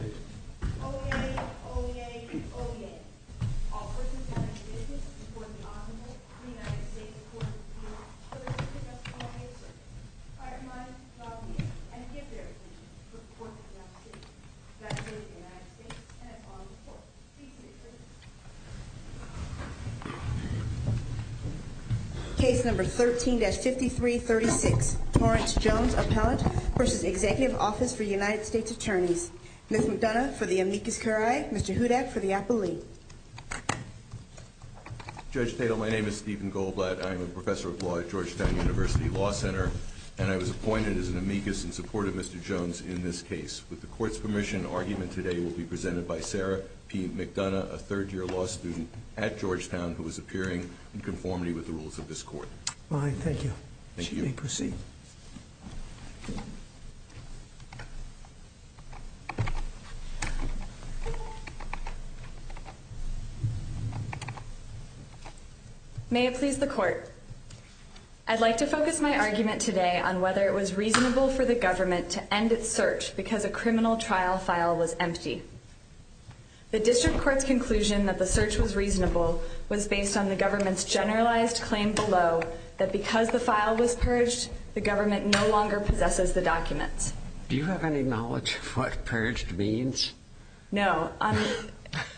OEA, OEA, OEA. All persons having business before the Honorable United States Court of Appeals, please discuss the following assertions. I remind, lobbyists, and give their opinions before the Court of Appeals, that of the United States, and of all the courts. Please be seated. Case number 13-5336, Torrance Jones, Appellant v. Executive Office for United States Attorneys. Ms. McDonough for the amicus curiae, Mr. Hudak for the appellee. Judge Tatel, my name is Stephen Goldblatt. I am a professor of law at Georgetown University Law Center, and I was appointed as an amicus in support of Mr. Jones in this case. With the court's permission, argument today will be presented by Sarah P. McDonough, a third-year law student at Georgetown who is appearing in conformity with the rules of this court. Fine, thank you. Thank you. She may proceed. May it please the court. I'd like to focus my argument today on whether it was reasonable for the government to end its search because a criminal trial file was empty. The district court's conclusion that the search was reasonable was based on the government's generalized claim below that because the file was purged, the government no longer possesses the documents. Do you have any knowledge of what purged means? No.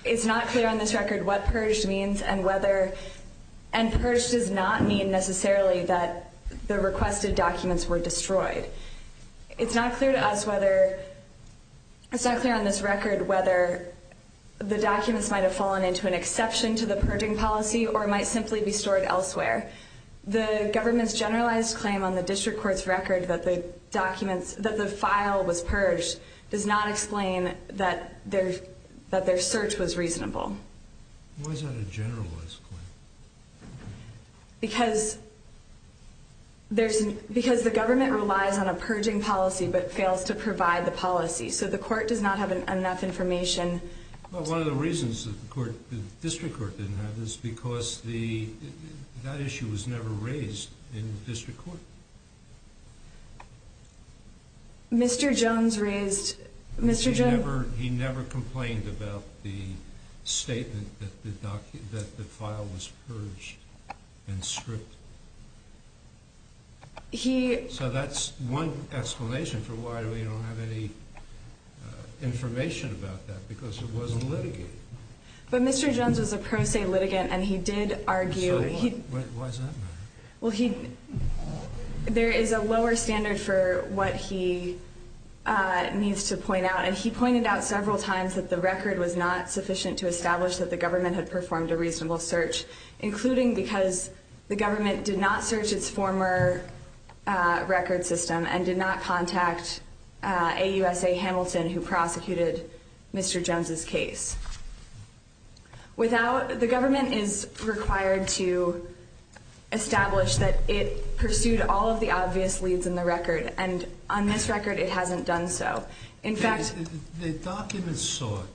It's not clear on this record what purged means and whether – and purged does not mean necessarily that the requested documents were destroyed. It's not clear to us whether – it's not clear on this record whether the documents might have fallen into an exception to the purging policy or might simply be stored elsewhere. The government's generalized claim on the district court's record that the documents – that the file was purged does not explain that their search was reasonable. Why is that a generalized claim? Because there's – because the government relies on a purging policy but fails to provide the policy. So the court does not have enough information. Well, one of the reasons that the court – the district court didn't have is because the – that issue was never raised in the district court. Mr. Jones raised – Mr. Jones – He never – he never complained about the statement that the file was purged and stripped. He – So that's one explanation for why we don't have any information about that, because it wasn't litigated. But Mr. Jones was a pro se litigant and he did argue – So why – why does that matter? Well, he – there is a lower standard for what he needs to point out, and he pointed out several times that the record was not sufficient to establish that the government had performed a reasonable search, including because the government did not search its former record system and did not contact AUSA Hamilton, who prosecuted Mr. Jones's case. Without – the government is required to establish that it pursued all of the obvious leads in the record, and on this record it hasn't done so. In fact – The documents sought,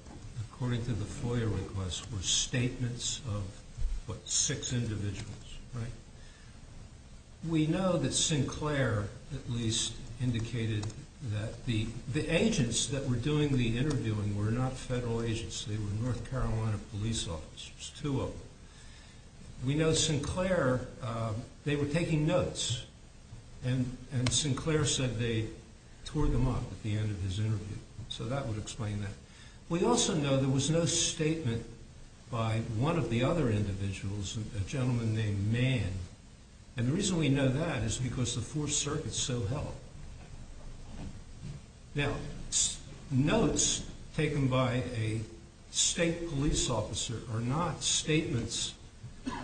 according to the FOIA request, were statements of, what, six individuals, right? We know that Sinclair at least indicated that the agents that were doing the interviewing were not federal agents. They were North Carolina police officers, two of them. We know Sinclair – they were taking notes, and Sinclair said they tore them up at the end of his interview, so that would explain that. We also know there was no statement by one of the other individuals, a gentleman named Mann. And the reason we know that is because the Fourth Circuit so held. Now, notes taken by a state police officer are not statements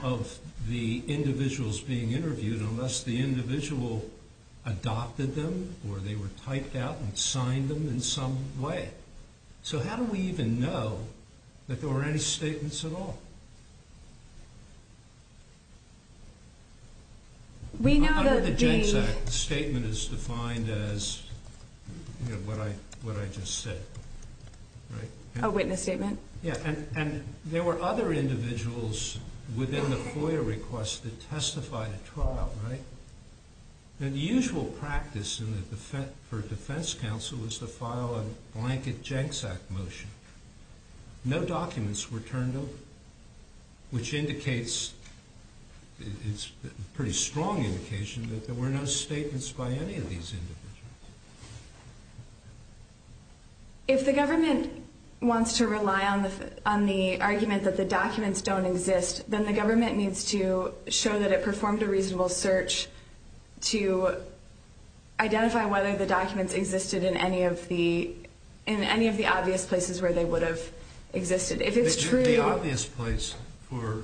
of the individuals being interviewed unless the individual adopted them or they were typed out and signed them in some way. So how do we even know that there were any statements at all? Under the Jenks Act, the statement is defined as, you know, what I just said, right? A witness statement. Yeah, and there were other individuals within the FOIA request that testified at trial, right? Now, the usual practice for a defense counsel is to file a blanket Jenks Act motion. No documents were turned over, which indicates – it's a pretty strong indication that there were no statements by any of these individuals. If the government wants to rely on the argument that the documents don't exist, then the government needs to show that it performed a reasonable search to identify whether the documents existed in any of the obvious places where they would have existed. The obvious place for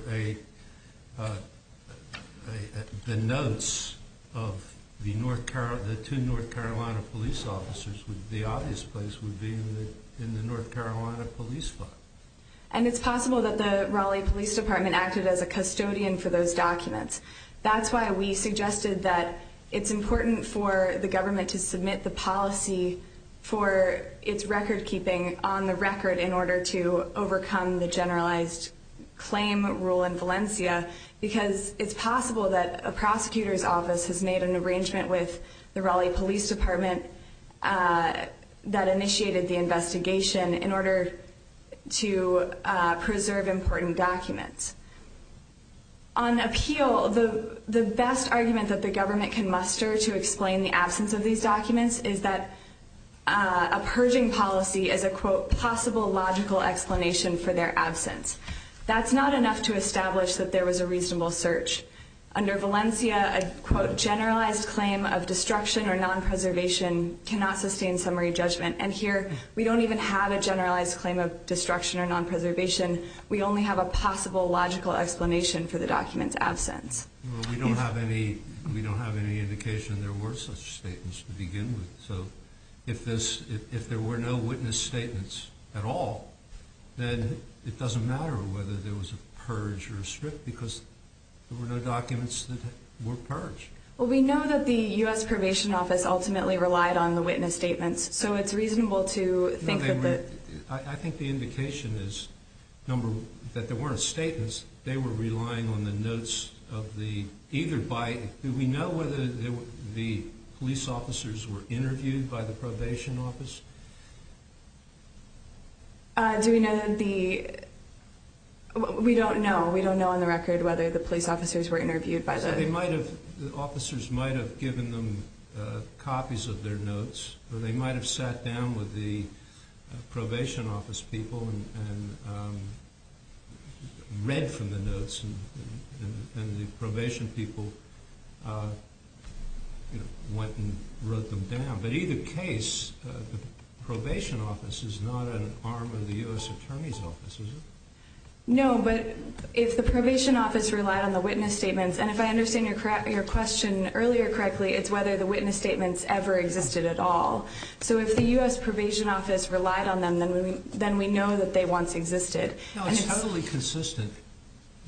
the notes of the two North Carolina police officers, the obvious place would be in the North Carolina police file. And it's possible that the Raleigh Police Department acted as a custodian for those documents. That's why we suggested that it's important for the government to submit the policy for its recordkeeping on the record in order to overcome the generalized claim rule in Valencia, because it's possible that a prosecutor's office has made an arrangement with the Raleigh Police Department that initiated the investigation in order to preserve important documents. On appeal, the best argument that the government can muster to explain the absence of these documents is that a purging policy is a, quote, possible logical explanation for their absence. That's not enough to establish that there was a reasonable search. Under Valencia, a, quote, generalized claim of destruction or non-preservation cannot sustain summary judgment. And here, we don't even have a generalized claim of destruction or non-preservation. We only have a possible logical explanation for the document's absence. Well, we don't have any indication there were such statements to begin with. So if there were no witness statements at all, then it doesn't matter whether there was a purge or a strip because there were no documents that were purged. Well, we know that the U.S. Probation Office ultimately relied on the witness statements. So it's reasonable to think that the... I think the indication is that there weren't statements. They were relying on the notes of the either by... Do we know whether the police officers were interviewed by the probation office? Do we know that the... We don't know. We don't know on the record whether the police officers were interviewed by the... They might have... The officers might have given them copies of their notes, or they might have sat down with the probation office people and read from the notes, and the probation people went and wrote them down. But either case, the probation office is not an arm of the U.S. Attorney's Office, is it? No, but if the probation office relied on the witness statements, and if I understand your question earlier correctly, it's whether the witness statements ever existed at all. So if the U.S. Probation Office relied on them, then we know that they once existed. No, it's totally consistent.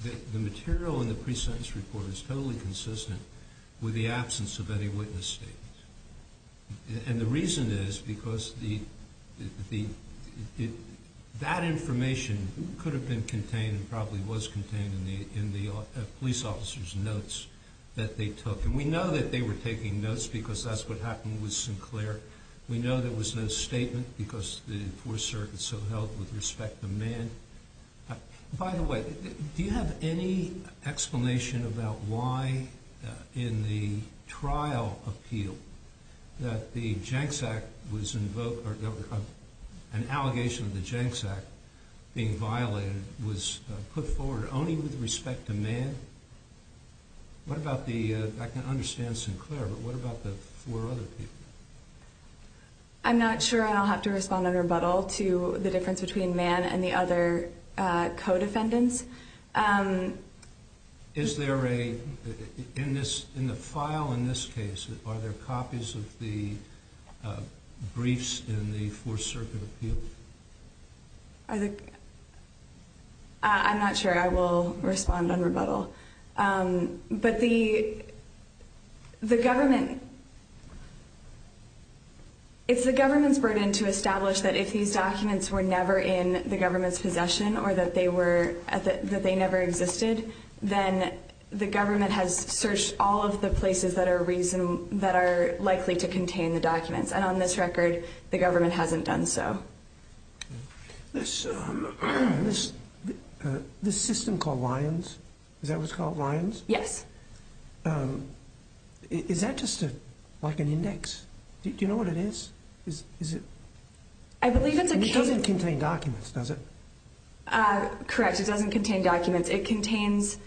The material in the pre-sentence report is totally consistent with the absence of any witness statement. And the reason is because the... That information could have been contained and probably was contained in the police officers' notes that they took. And we know that they were taking notes because that's what happened with Sinclair. We know there was no statement because the Fourth Circuit so held with respect the man. By the way, do you have any explanation about why, in the trial appeal, that the Jenks Act was invoked, or an allegation of the Jenks Act being violated, was put forward only with respect to man? What about the... I can understand Sinclair, but what about the four other people? I'm not sure I'll have to respond on rebuttal to the difference between man and the other co-defendants. Is there a... In the file in this case, are there copies of the briefs in the Fourth Circuit appeal? I'm not sure I will respond on rebuttal. But the government... It's the government's burden to establish that if these documents were never in the government's possession, or that they were... that they never existed, then the government has searched all of the places that are likely to contain the documents. And on this record, the government hasn't done so. This system called Lyons, is that what it's called, Lyons? Yes. Is that just like an index? Do you know what it is? I believe it's a... It doesn't contain documents, does it? Correct, it doesn't contain documents. It contains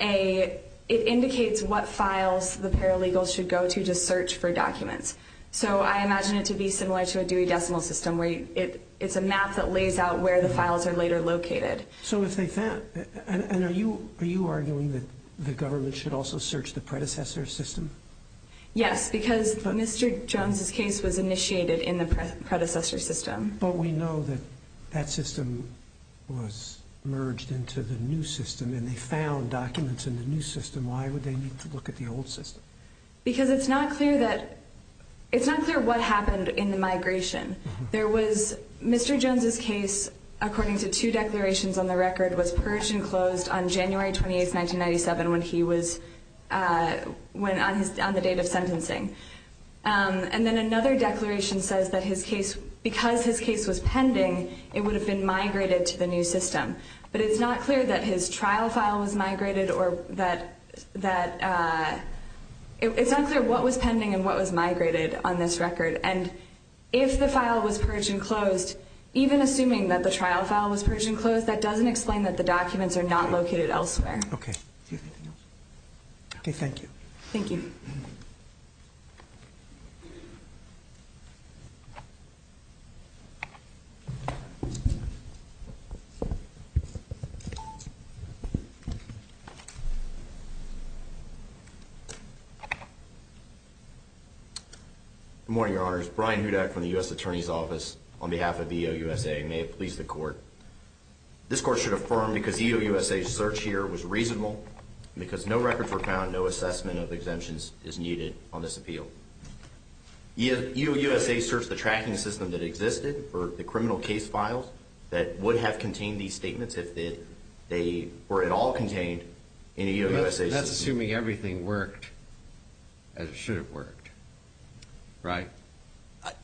a... it indicates what files the paralegals should go to to search for documents. So I imagine it to be similar to a Dewey Decimal System, where it's a map that lays out where the files are later located. So if they found... And are you arguing that the government should also search the predecessor system? Yes, because Mr. Jones' case was initiated in the predecessor system. But we know that that system was merged into the new system, and they found documents in the new system. Why would they need to look at the old system? Because it's not clear that... it's not clear what happened in the migration. There was... Mr. Jones' case, according to two declarations on the record, was purged and closed on January 28, 1997, when he was... on the date of sentencing. And then another declaration says that his case... because his case was pending, it would have been migrated to the new system. But it's not clear that his trial file was migrated or that... it's unclear what was pending and what was migrated on this record. And if the file was purged and closed, even assuming that the trial file was purged and closed, that doesn't explain that the documents are not located elsewhere. Okay. Okay, thank you. Thank you. Thank you. Good morning, Your Honors. Brian Hudak from the U.S. Attorney's Office on behalf of EOUSA. May it please the Court. This Court should affirm because EOUSA's search here was reasonable, because no records were found, no assessment of exemptions is needed on this appeal. EOUSA searched the tracking system that existed for the criminal case files that would have contained these statements if they were at all contained in EOUSA's system. That's assuming everything worked as it should have worked, right?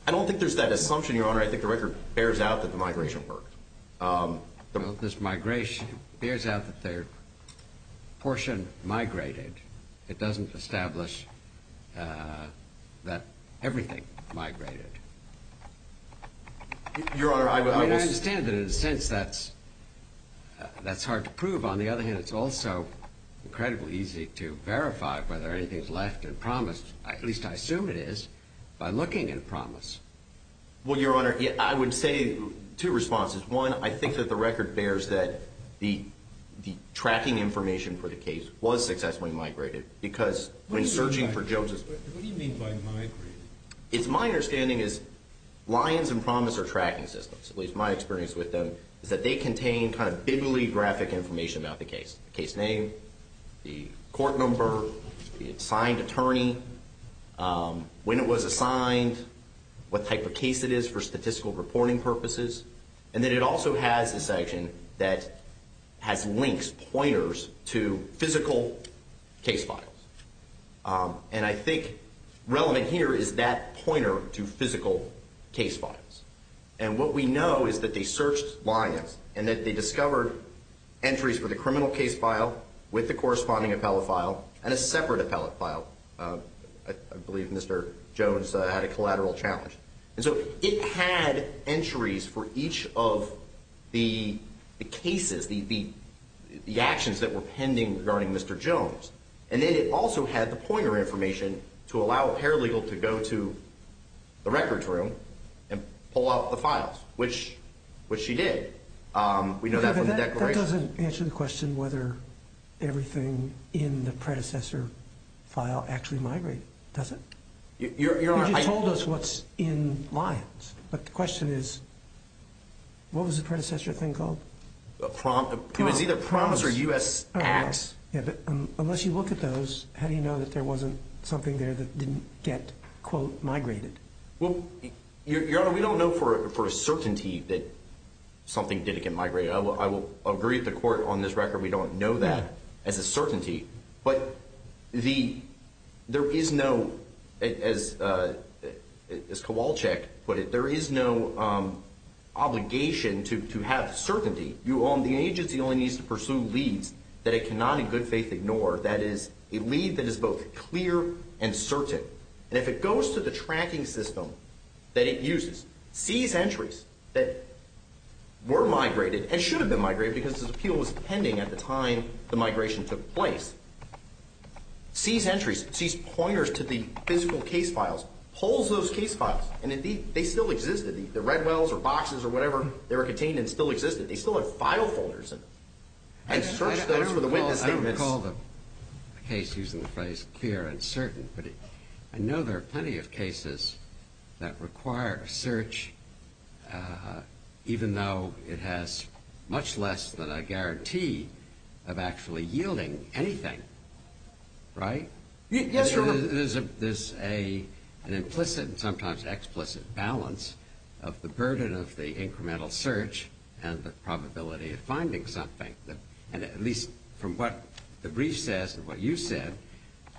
I don't think there's that assumption, Your Honor. I think the record bears out that the migration worked. Well, this migration bears out that their portion migrated. It doesn't establish that everything migrated. Your Honor, I was – I mean, I understand that in a sense that's hard to prove. On the other hand, it's also incredibly easy to verify whether anything's left and promised, at least I assume it is, by looking at a promise. Well, Your Honor, I would say two responses. One, I think that the record bears that the tracking information for the case was successfully migrated, because when searching for Joseph's – What do you mean by migrated? My understanding is Lyons and Promise are tracking systems, at least my experience with them, is that they contain kind of bibliographic information about the case, the case name, the court number, the assigned attorney, when it was assigned, what type of case it is for statistical reporting purposes. And then it also has a section that has links, pointers, to physical case files. And I think relevant here is that pointer to physical case files. And what we know is that they searched Lyons and that they discovered entries for the criminal case file with the corresponding appellate file and a separate appellate file. I believe Mr. Jones had a collateral challenge. And so it had entries for each of the cases, the actions that were pending regarding Mr. Jones. And then it also had the pointer information to allow a paralegal to go to the records room and pull out the files, which she did. We know that from the declaration. That doesn't answer the question whether everything in the predecessor file actually migrated, does it? You just told us what's in Lyons. But the question is, what was the predecessor thing called? It was either Promise or U.S. Acts. Unless you look at those, how do you know that there wasn't something there that didn't get, quote, migrated? Well, Your Honor, we don't know for a certainty that something didn't get migrated. I will agree with the Court on this record. We don't know that as a certainty. But there is no, as Kowalczyk put it, there is no obligation to have certainty. The agency only needs to pursue leads that it cannot in good faith ignore, that is, a lead that is both clear and certain. And if it goes to the tracking system that it uses, sees entries that were migrated and should have been migrated because this appeal was pending at the time the migration took place, sees entries, sees pointers to the physical case files, pulls those case files, and indeed they still existed. The Redwells or boxes or whatever, they were contained and still existed. They still have file folders in them. And search those for the witness statements. I don't recall the case using the phrase clear and certain, but I know there are plenty of cases that require search even though it has much less than a guarantee of actually yielding anything. Right? Yes, Your Honor. There's an implicit and sometimes explicit balance of the burden of the incremental search and the probability of finding something. And at least from what the brief says and what you said,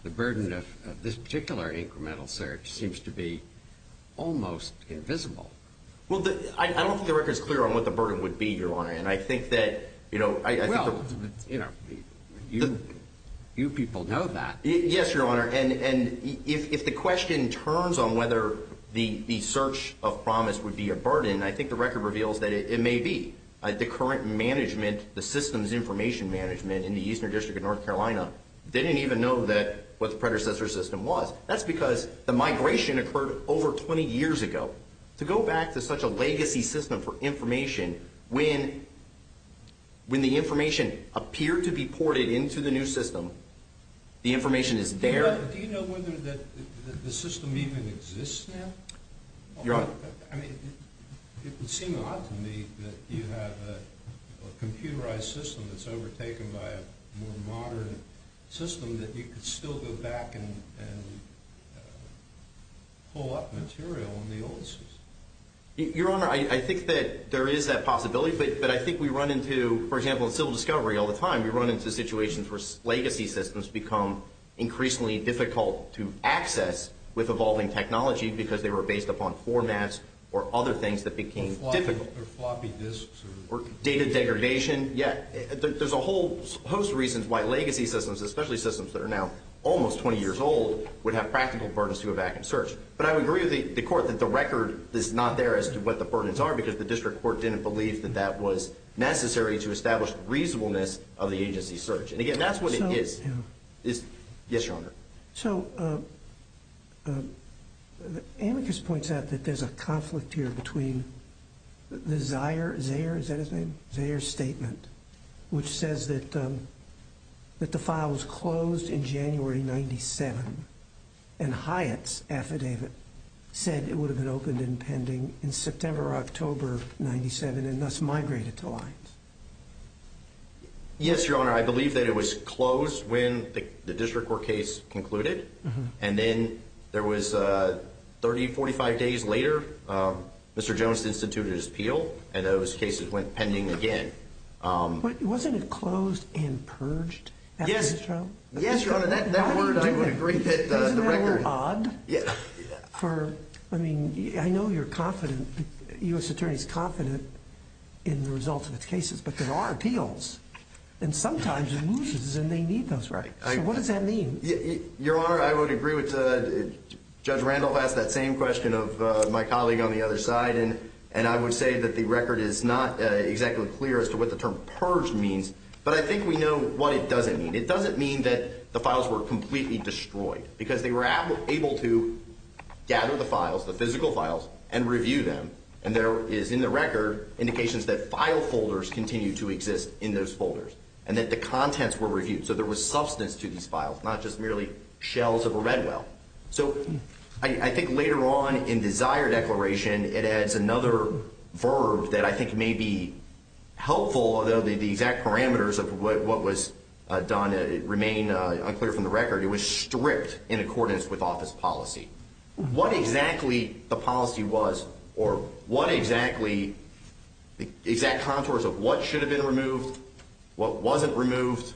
the burden of this particular incremental search seems to be almost invisible. Well, I don't think the record is clear on what the burden would be, Your Honor. And I think that, you know, I think the – Well, you know, you people know that. Yes, Your Honor. And if the question turns on whether the search of promise would be a burden, I think the record reveals that it may be. The current management, the systems information management in the Eastern District of North Carolina, didn't even know what the predecessor system was. That's because the migration occurred over 20 years ago. To go back to such a legacy system for information, when the information appeared to be ported into the new system, the information is there. Do you know whether the system even exists now? Your Honor. I mean, it would seem odd to me that you have a computerized system that's overtaken by a more modern system that you could still go back and pull up material on the old system. Your Honor, I think that there is that possibility. But I think we run into, for example, in civil discovery all the time, we run into situations where legacy systems become increasingly difficult to access with evolving technology because they were based upon formats or other things that became difficult. Or floppy disks. Or data degradation. Yeah. There's a whole host of reasons why legacy systems, especially systems that are now almost 20 years old, would have practical burdens to go back and search. But I would agree with the Court that the record is not there as to what the burdens are because the district court didn't believe that that was necessary to establish reasonableness of the agency search. And, again, that's what it is. Yes, Your Honor. So, Amicus points out that there's a conflict here between the Zeyer statement, which says that the file was closed in January 1997, and Hyatt's affidavit said it would have been opened and pending in September or October 1997 and thus migrated to Lyons. Yes, Your Honor. I believe that it was closed when the district court case concluded. And then there was 30, 45 days later, Mr. Jones instituted his appeal, and those cases went pending again. Wasn't it closed and purged after his trial? Yes, Your Honor. That word, I would agree, hit the record. Isn't that word odd? Yeah. For, I mean, I know you're confident, U.S. Attorney's confident in the results of its cases, but there are appeals. And sometimes it loses and they need those rights. So what does that mean? Your Honor, I would agree. Judge Randolph asked that same question of my colleague on the other side. And I would say that the record is not exactly clear as to what the term purged means. But I think we know what it doesn't mean. It doesn't mean that the files were completely destroyed, because they were able to gather the files, the physical files, and review them. And there is in the record indications that file folders continue to exist in those folders and that the contents were reviewed. So there was substance to these files, not just merely shells of a red well. So I think later on in desire declaration, it adds another verb that I think may be helpful, although the exact parameters of what was done remain unclear from the record. It was stripped in accordance with office policy. What exactly the policy was or what exactly the exact contours of what should have been removed, what wasn't removed,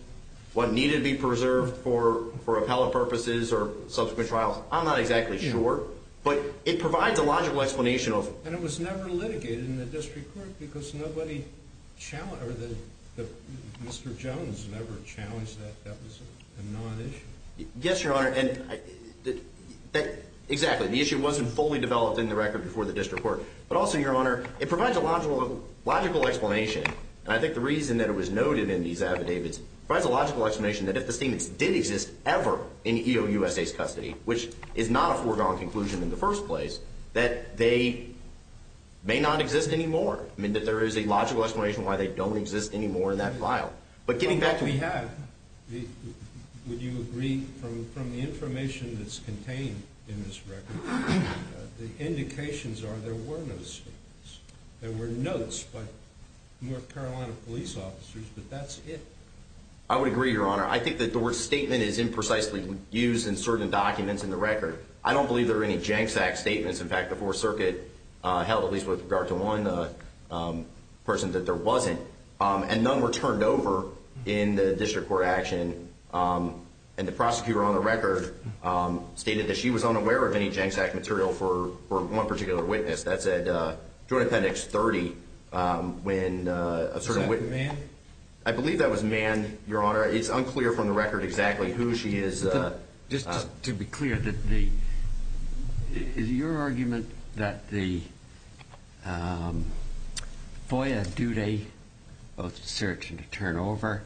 what needed to be preserved for appellate purposes or subsequent trials, I'm not exactly sure. But it provides a logical explanation. And it was never litigated in the district court because nobody challenged or Mr. Jones never challenged that that was a non-issue. Yes, Your Honor. Exactly. The issue wasn't fully developed in the record before the district court. But also, Your Honor, it provides a logical explanation. And I think the reason that it was noted in these affidavits provides a logical explanation that if the steamers did exist ever in EOUSA's custody, which is not a foregone conclusion in the first place, that they may not exist anymore. I mean, that there is a logical explanation why they don't exist anymore in that file. But getting back to the— What we have, would you agree, from the information that's contained in this record, the indications are there were no steamers. There were notes by North Carolina police officers, but that's it. I would agree, Your Honor. I think that the word statement is imprecisely used in certain documents in the record. I don't believe there are any JANXAC statements. In fact, the Fourth Circuit held, at least with regard to one person, that there wasn't. And none were turned over in the district court action. And the prosecutor on the record stated that she was unaware of any JANXAC material for one particular witness. That's at Joint Appendix 30 when a certain witness— Was that the man? I believe that was a man, Your Honor. It's unclear from the record exactly who she is. Just to be clear, is your argument that the FOIA duty, both to search and to turn over,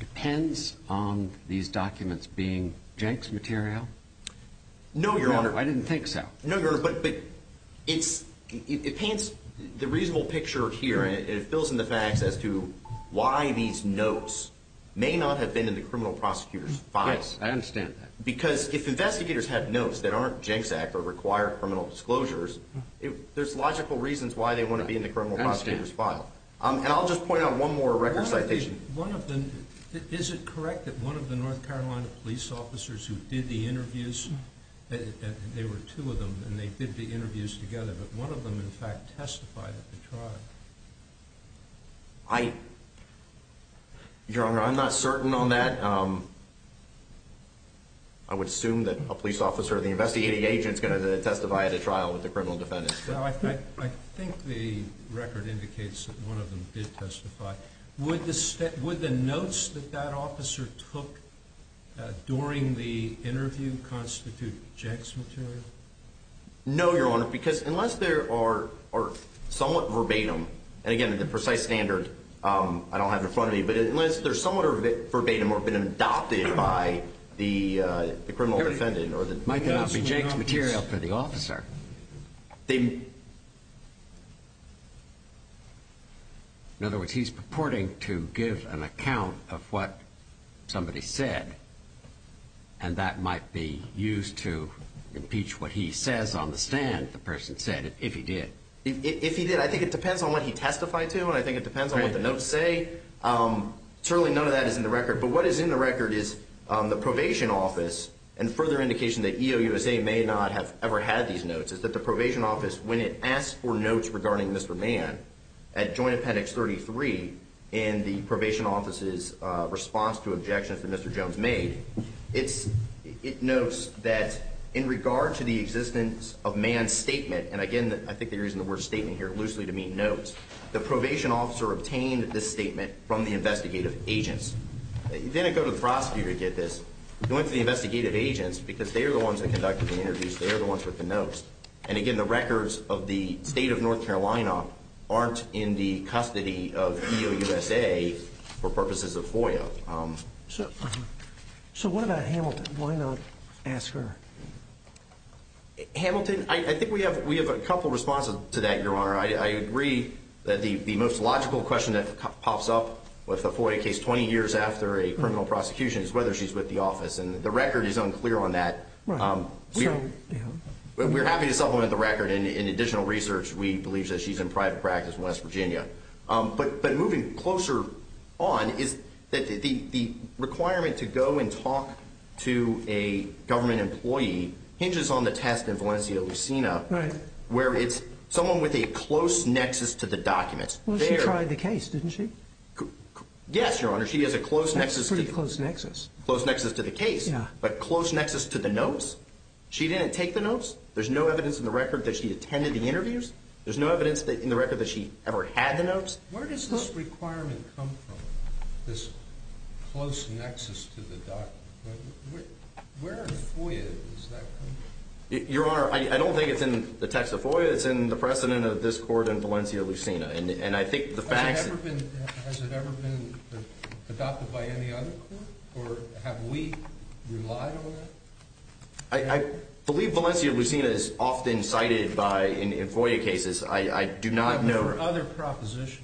depends on these documents being JANX material? No, Your Honor. I didn't think so. No, Your Honor. But it paints the reasonable picture here, and it fills in the facts as to why these notes may not have been in the criminal prosecutor's file. Yes, I understand that. Because if investigators have notes that aren't JANXAC or require criminal disclosures, there's logical reasons why they want to be in the criminal prosecutor's file. I understand. And I'll just point out one more record citation. One of the—is it correct that one of the North Carolina police officers who did the interviews, and there were two of them, and they did the interviews together, but one of them, in fact, testified at the trial? I—Your Honor, I'm not certain on that. I would assume that a police officer or the investigating agent is going to testify at a trial with a criminal defendant. No, I think the record indicates that one of them did testify. Would the notes that that officer took during the interview constitute JANX material? No, Your Honor, because unless there are somewhat verbatim—and again, the precise standard I don't have in front of me, but unless they're somewhat verbatim or have been adopted by the criminal defendant or the— It might not be JANX material for the officer. They— In other words, he's purporting to give an account of what somebody said, and that might be used to impeach what he says on the stand, the person said, if he did. If he did. I think it depends on what he testified to, and I think it depends on what the notes say. Certainly none of that is in the record, but what is in the record is the probation office and further indication that EOUSA may not have ever had these notes, is that the probation office, when it asked for notes regarding Mr. Mann at Joint Appendix 33 in the probation office's response to objections that Mr. Jones made, it notes that in regard to the existence of Mann's statement— and again, I think they're using the word statement here loosely to mean notes— the probation officer obtained this statement from the investigative agents. He didn't go to the prosecutor to get this. He went to the investigative agents because they are the ones that conducted the interviews. They are the ones with the notes. And again, the records of the State of North Carolina aren't in the custody of EOUSA for purposes of FOIA. So what about Hamilton? Why not ask her? I agree that the most logical question that pops up with a FOIA case 20 years after a criminal prosecution is whether she's with the office, and the record is unclear on that. We're happy to supplement the record in additional research. We believe that she's in private practice in West Virginia. But moving closer on is that the requirement to go and talk to a government employee hinges on the test where it's someone with a close nexus to the documents. Well, she tried the case, didn't she? Yes, Your Honor. She has a close nexus. That's a pretty close nexus. Close nexus to the case. Yeah. But close nexus to the notes? She didn't take the notes? There's no evidence in the record that she attended the interviews? There's no evidence in the record that she ever had the notes? Where does this requirement come from, this close nexus to the document? Where in FOIA does that come from? Your Honor, I don't think it's in the text of FOIA. It's in the precedent of this court and Valencia-Lucena. And I think the facts— Has it ever been adopted by any other court? Or have we relied on that? I believe Valencia-Lucena is often cited in FOIA cases. I do not know— But for other propositions?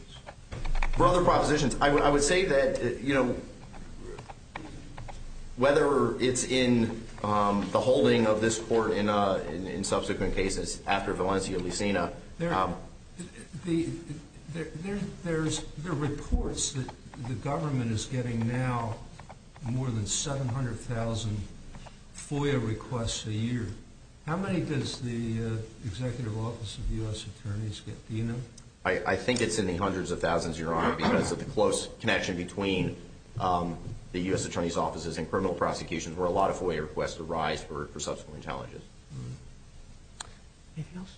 For other propositions. I would say that, you know, whether it's in the holding of this court in subsequent cases after Valencia-Lucena— There are reports that the government is getting now more than 700,000 FOIA requests a year. How many does the Executive Office of U.S. Attorneys get? Do you know? I think it's in the hundreds of thousands, Your Honor, because of the close connection between the U.S. Attorney's offices and criminal prosecutions where a lot of FOIA requests arise for subsequent challenges. Anything else?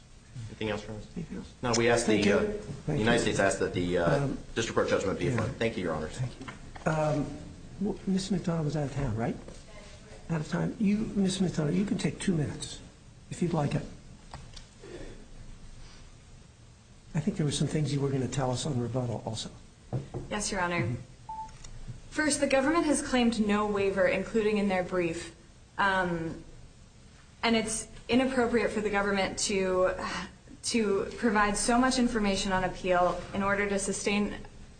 Anything else, Your Honor? No, we asked the— Thank you. The United States asked that the district court judgment be affirmed. Thank you, Your Honor. Thank you. Ms. McDonough was out of town, right? Out of time. You, Ms. McDonough, you can take two minutes if you'd like it. I think there were some things you were going to tell us on rebuttal also. Yes, Your Honor. First, the government has claimed no waiver, including in their brief. And it's inappropriate for the government to provide so much information on appeal in order to sustain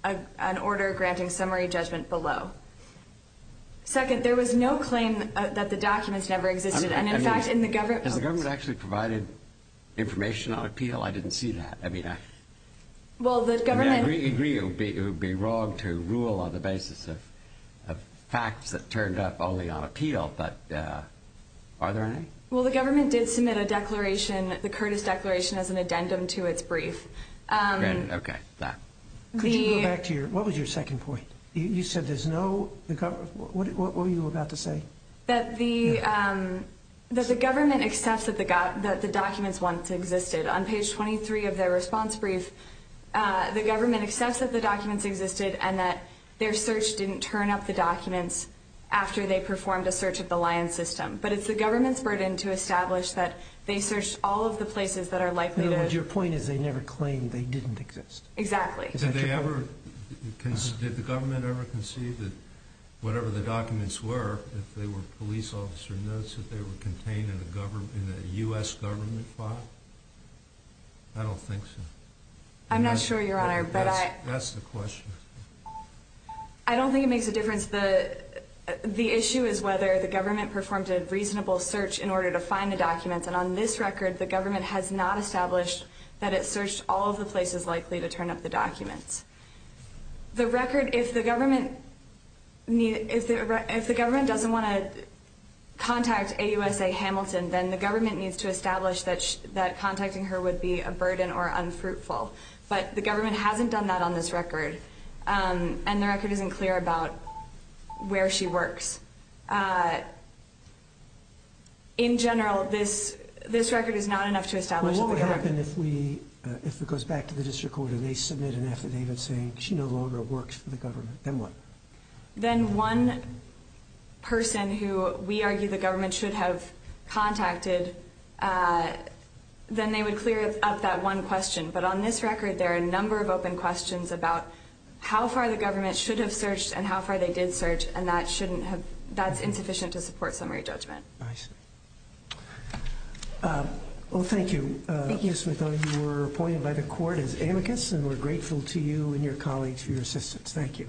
an order granting summary judgment below. Second, there was no claim that the documents never existed. And, in fact, in the government— Has the government actually provided information on appeal? I didn't see that. I mean, I— Well, the government— And I agree it would be wrong to rule on the basis of facts that turned up only on appeal. But are there any? Well, the government did submit a declaration, the Curtis Declaration, as an addendum to its brief. Okay. Could you go back to your—what was your second point? You said there's no—what were you about to say? That the government accepts that the documents once existed. On page 23 of their response brief, the government accepts that the documents existed and that their search didn't turn up the documents after they performed a search of the Lyons system. But it's the government's burden to establish that they searched all of the places that are likely to— In other words, your point is they never claimed they didn't exist. Exactly. Did they ever—did the government ever conceive that whatever the documents were, if they were police officer notes, that they were contained in a U.S. government file? I don't think so. I'm not sure, Your Honor, but I— That's the question. I don't think it makes a difference. The issue is whether the government performed a reasonable search in order to find the documents. And on this record, the government has not established that it searched all of the places likely to turn up the documents. The record—if the government doesn't want to contact AUSA Hamilton, then the government needs to establish that contacting her would be a burden or unfruitful. But the government hasn't done that on this record, and the record isn't clear about where she works. In general, this record is not enough to establish that they have— Well, what would happen if we—if it goes back to the district court and they submit an affidavit saying she no longer works for the government? Then what? Then one person who we argue the government should have contacted, then they would clear up that one question. But on this record, there are a number of open questions about how far the government should have searched and how far they did search, and that shouldn't have—that's insufficient to support summary judgment. I see. Well, thank you. Thank you. Ms. Smith, you were appointed by the court as amicus, and we're grateful to you and your colleagues for your assistance. Thank you.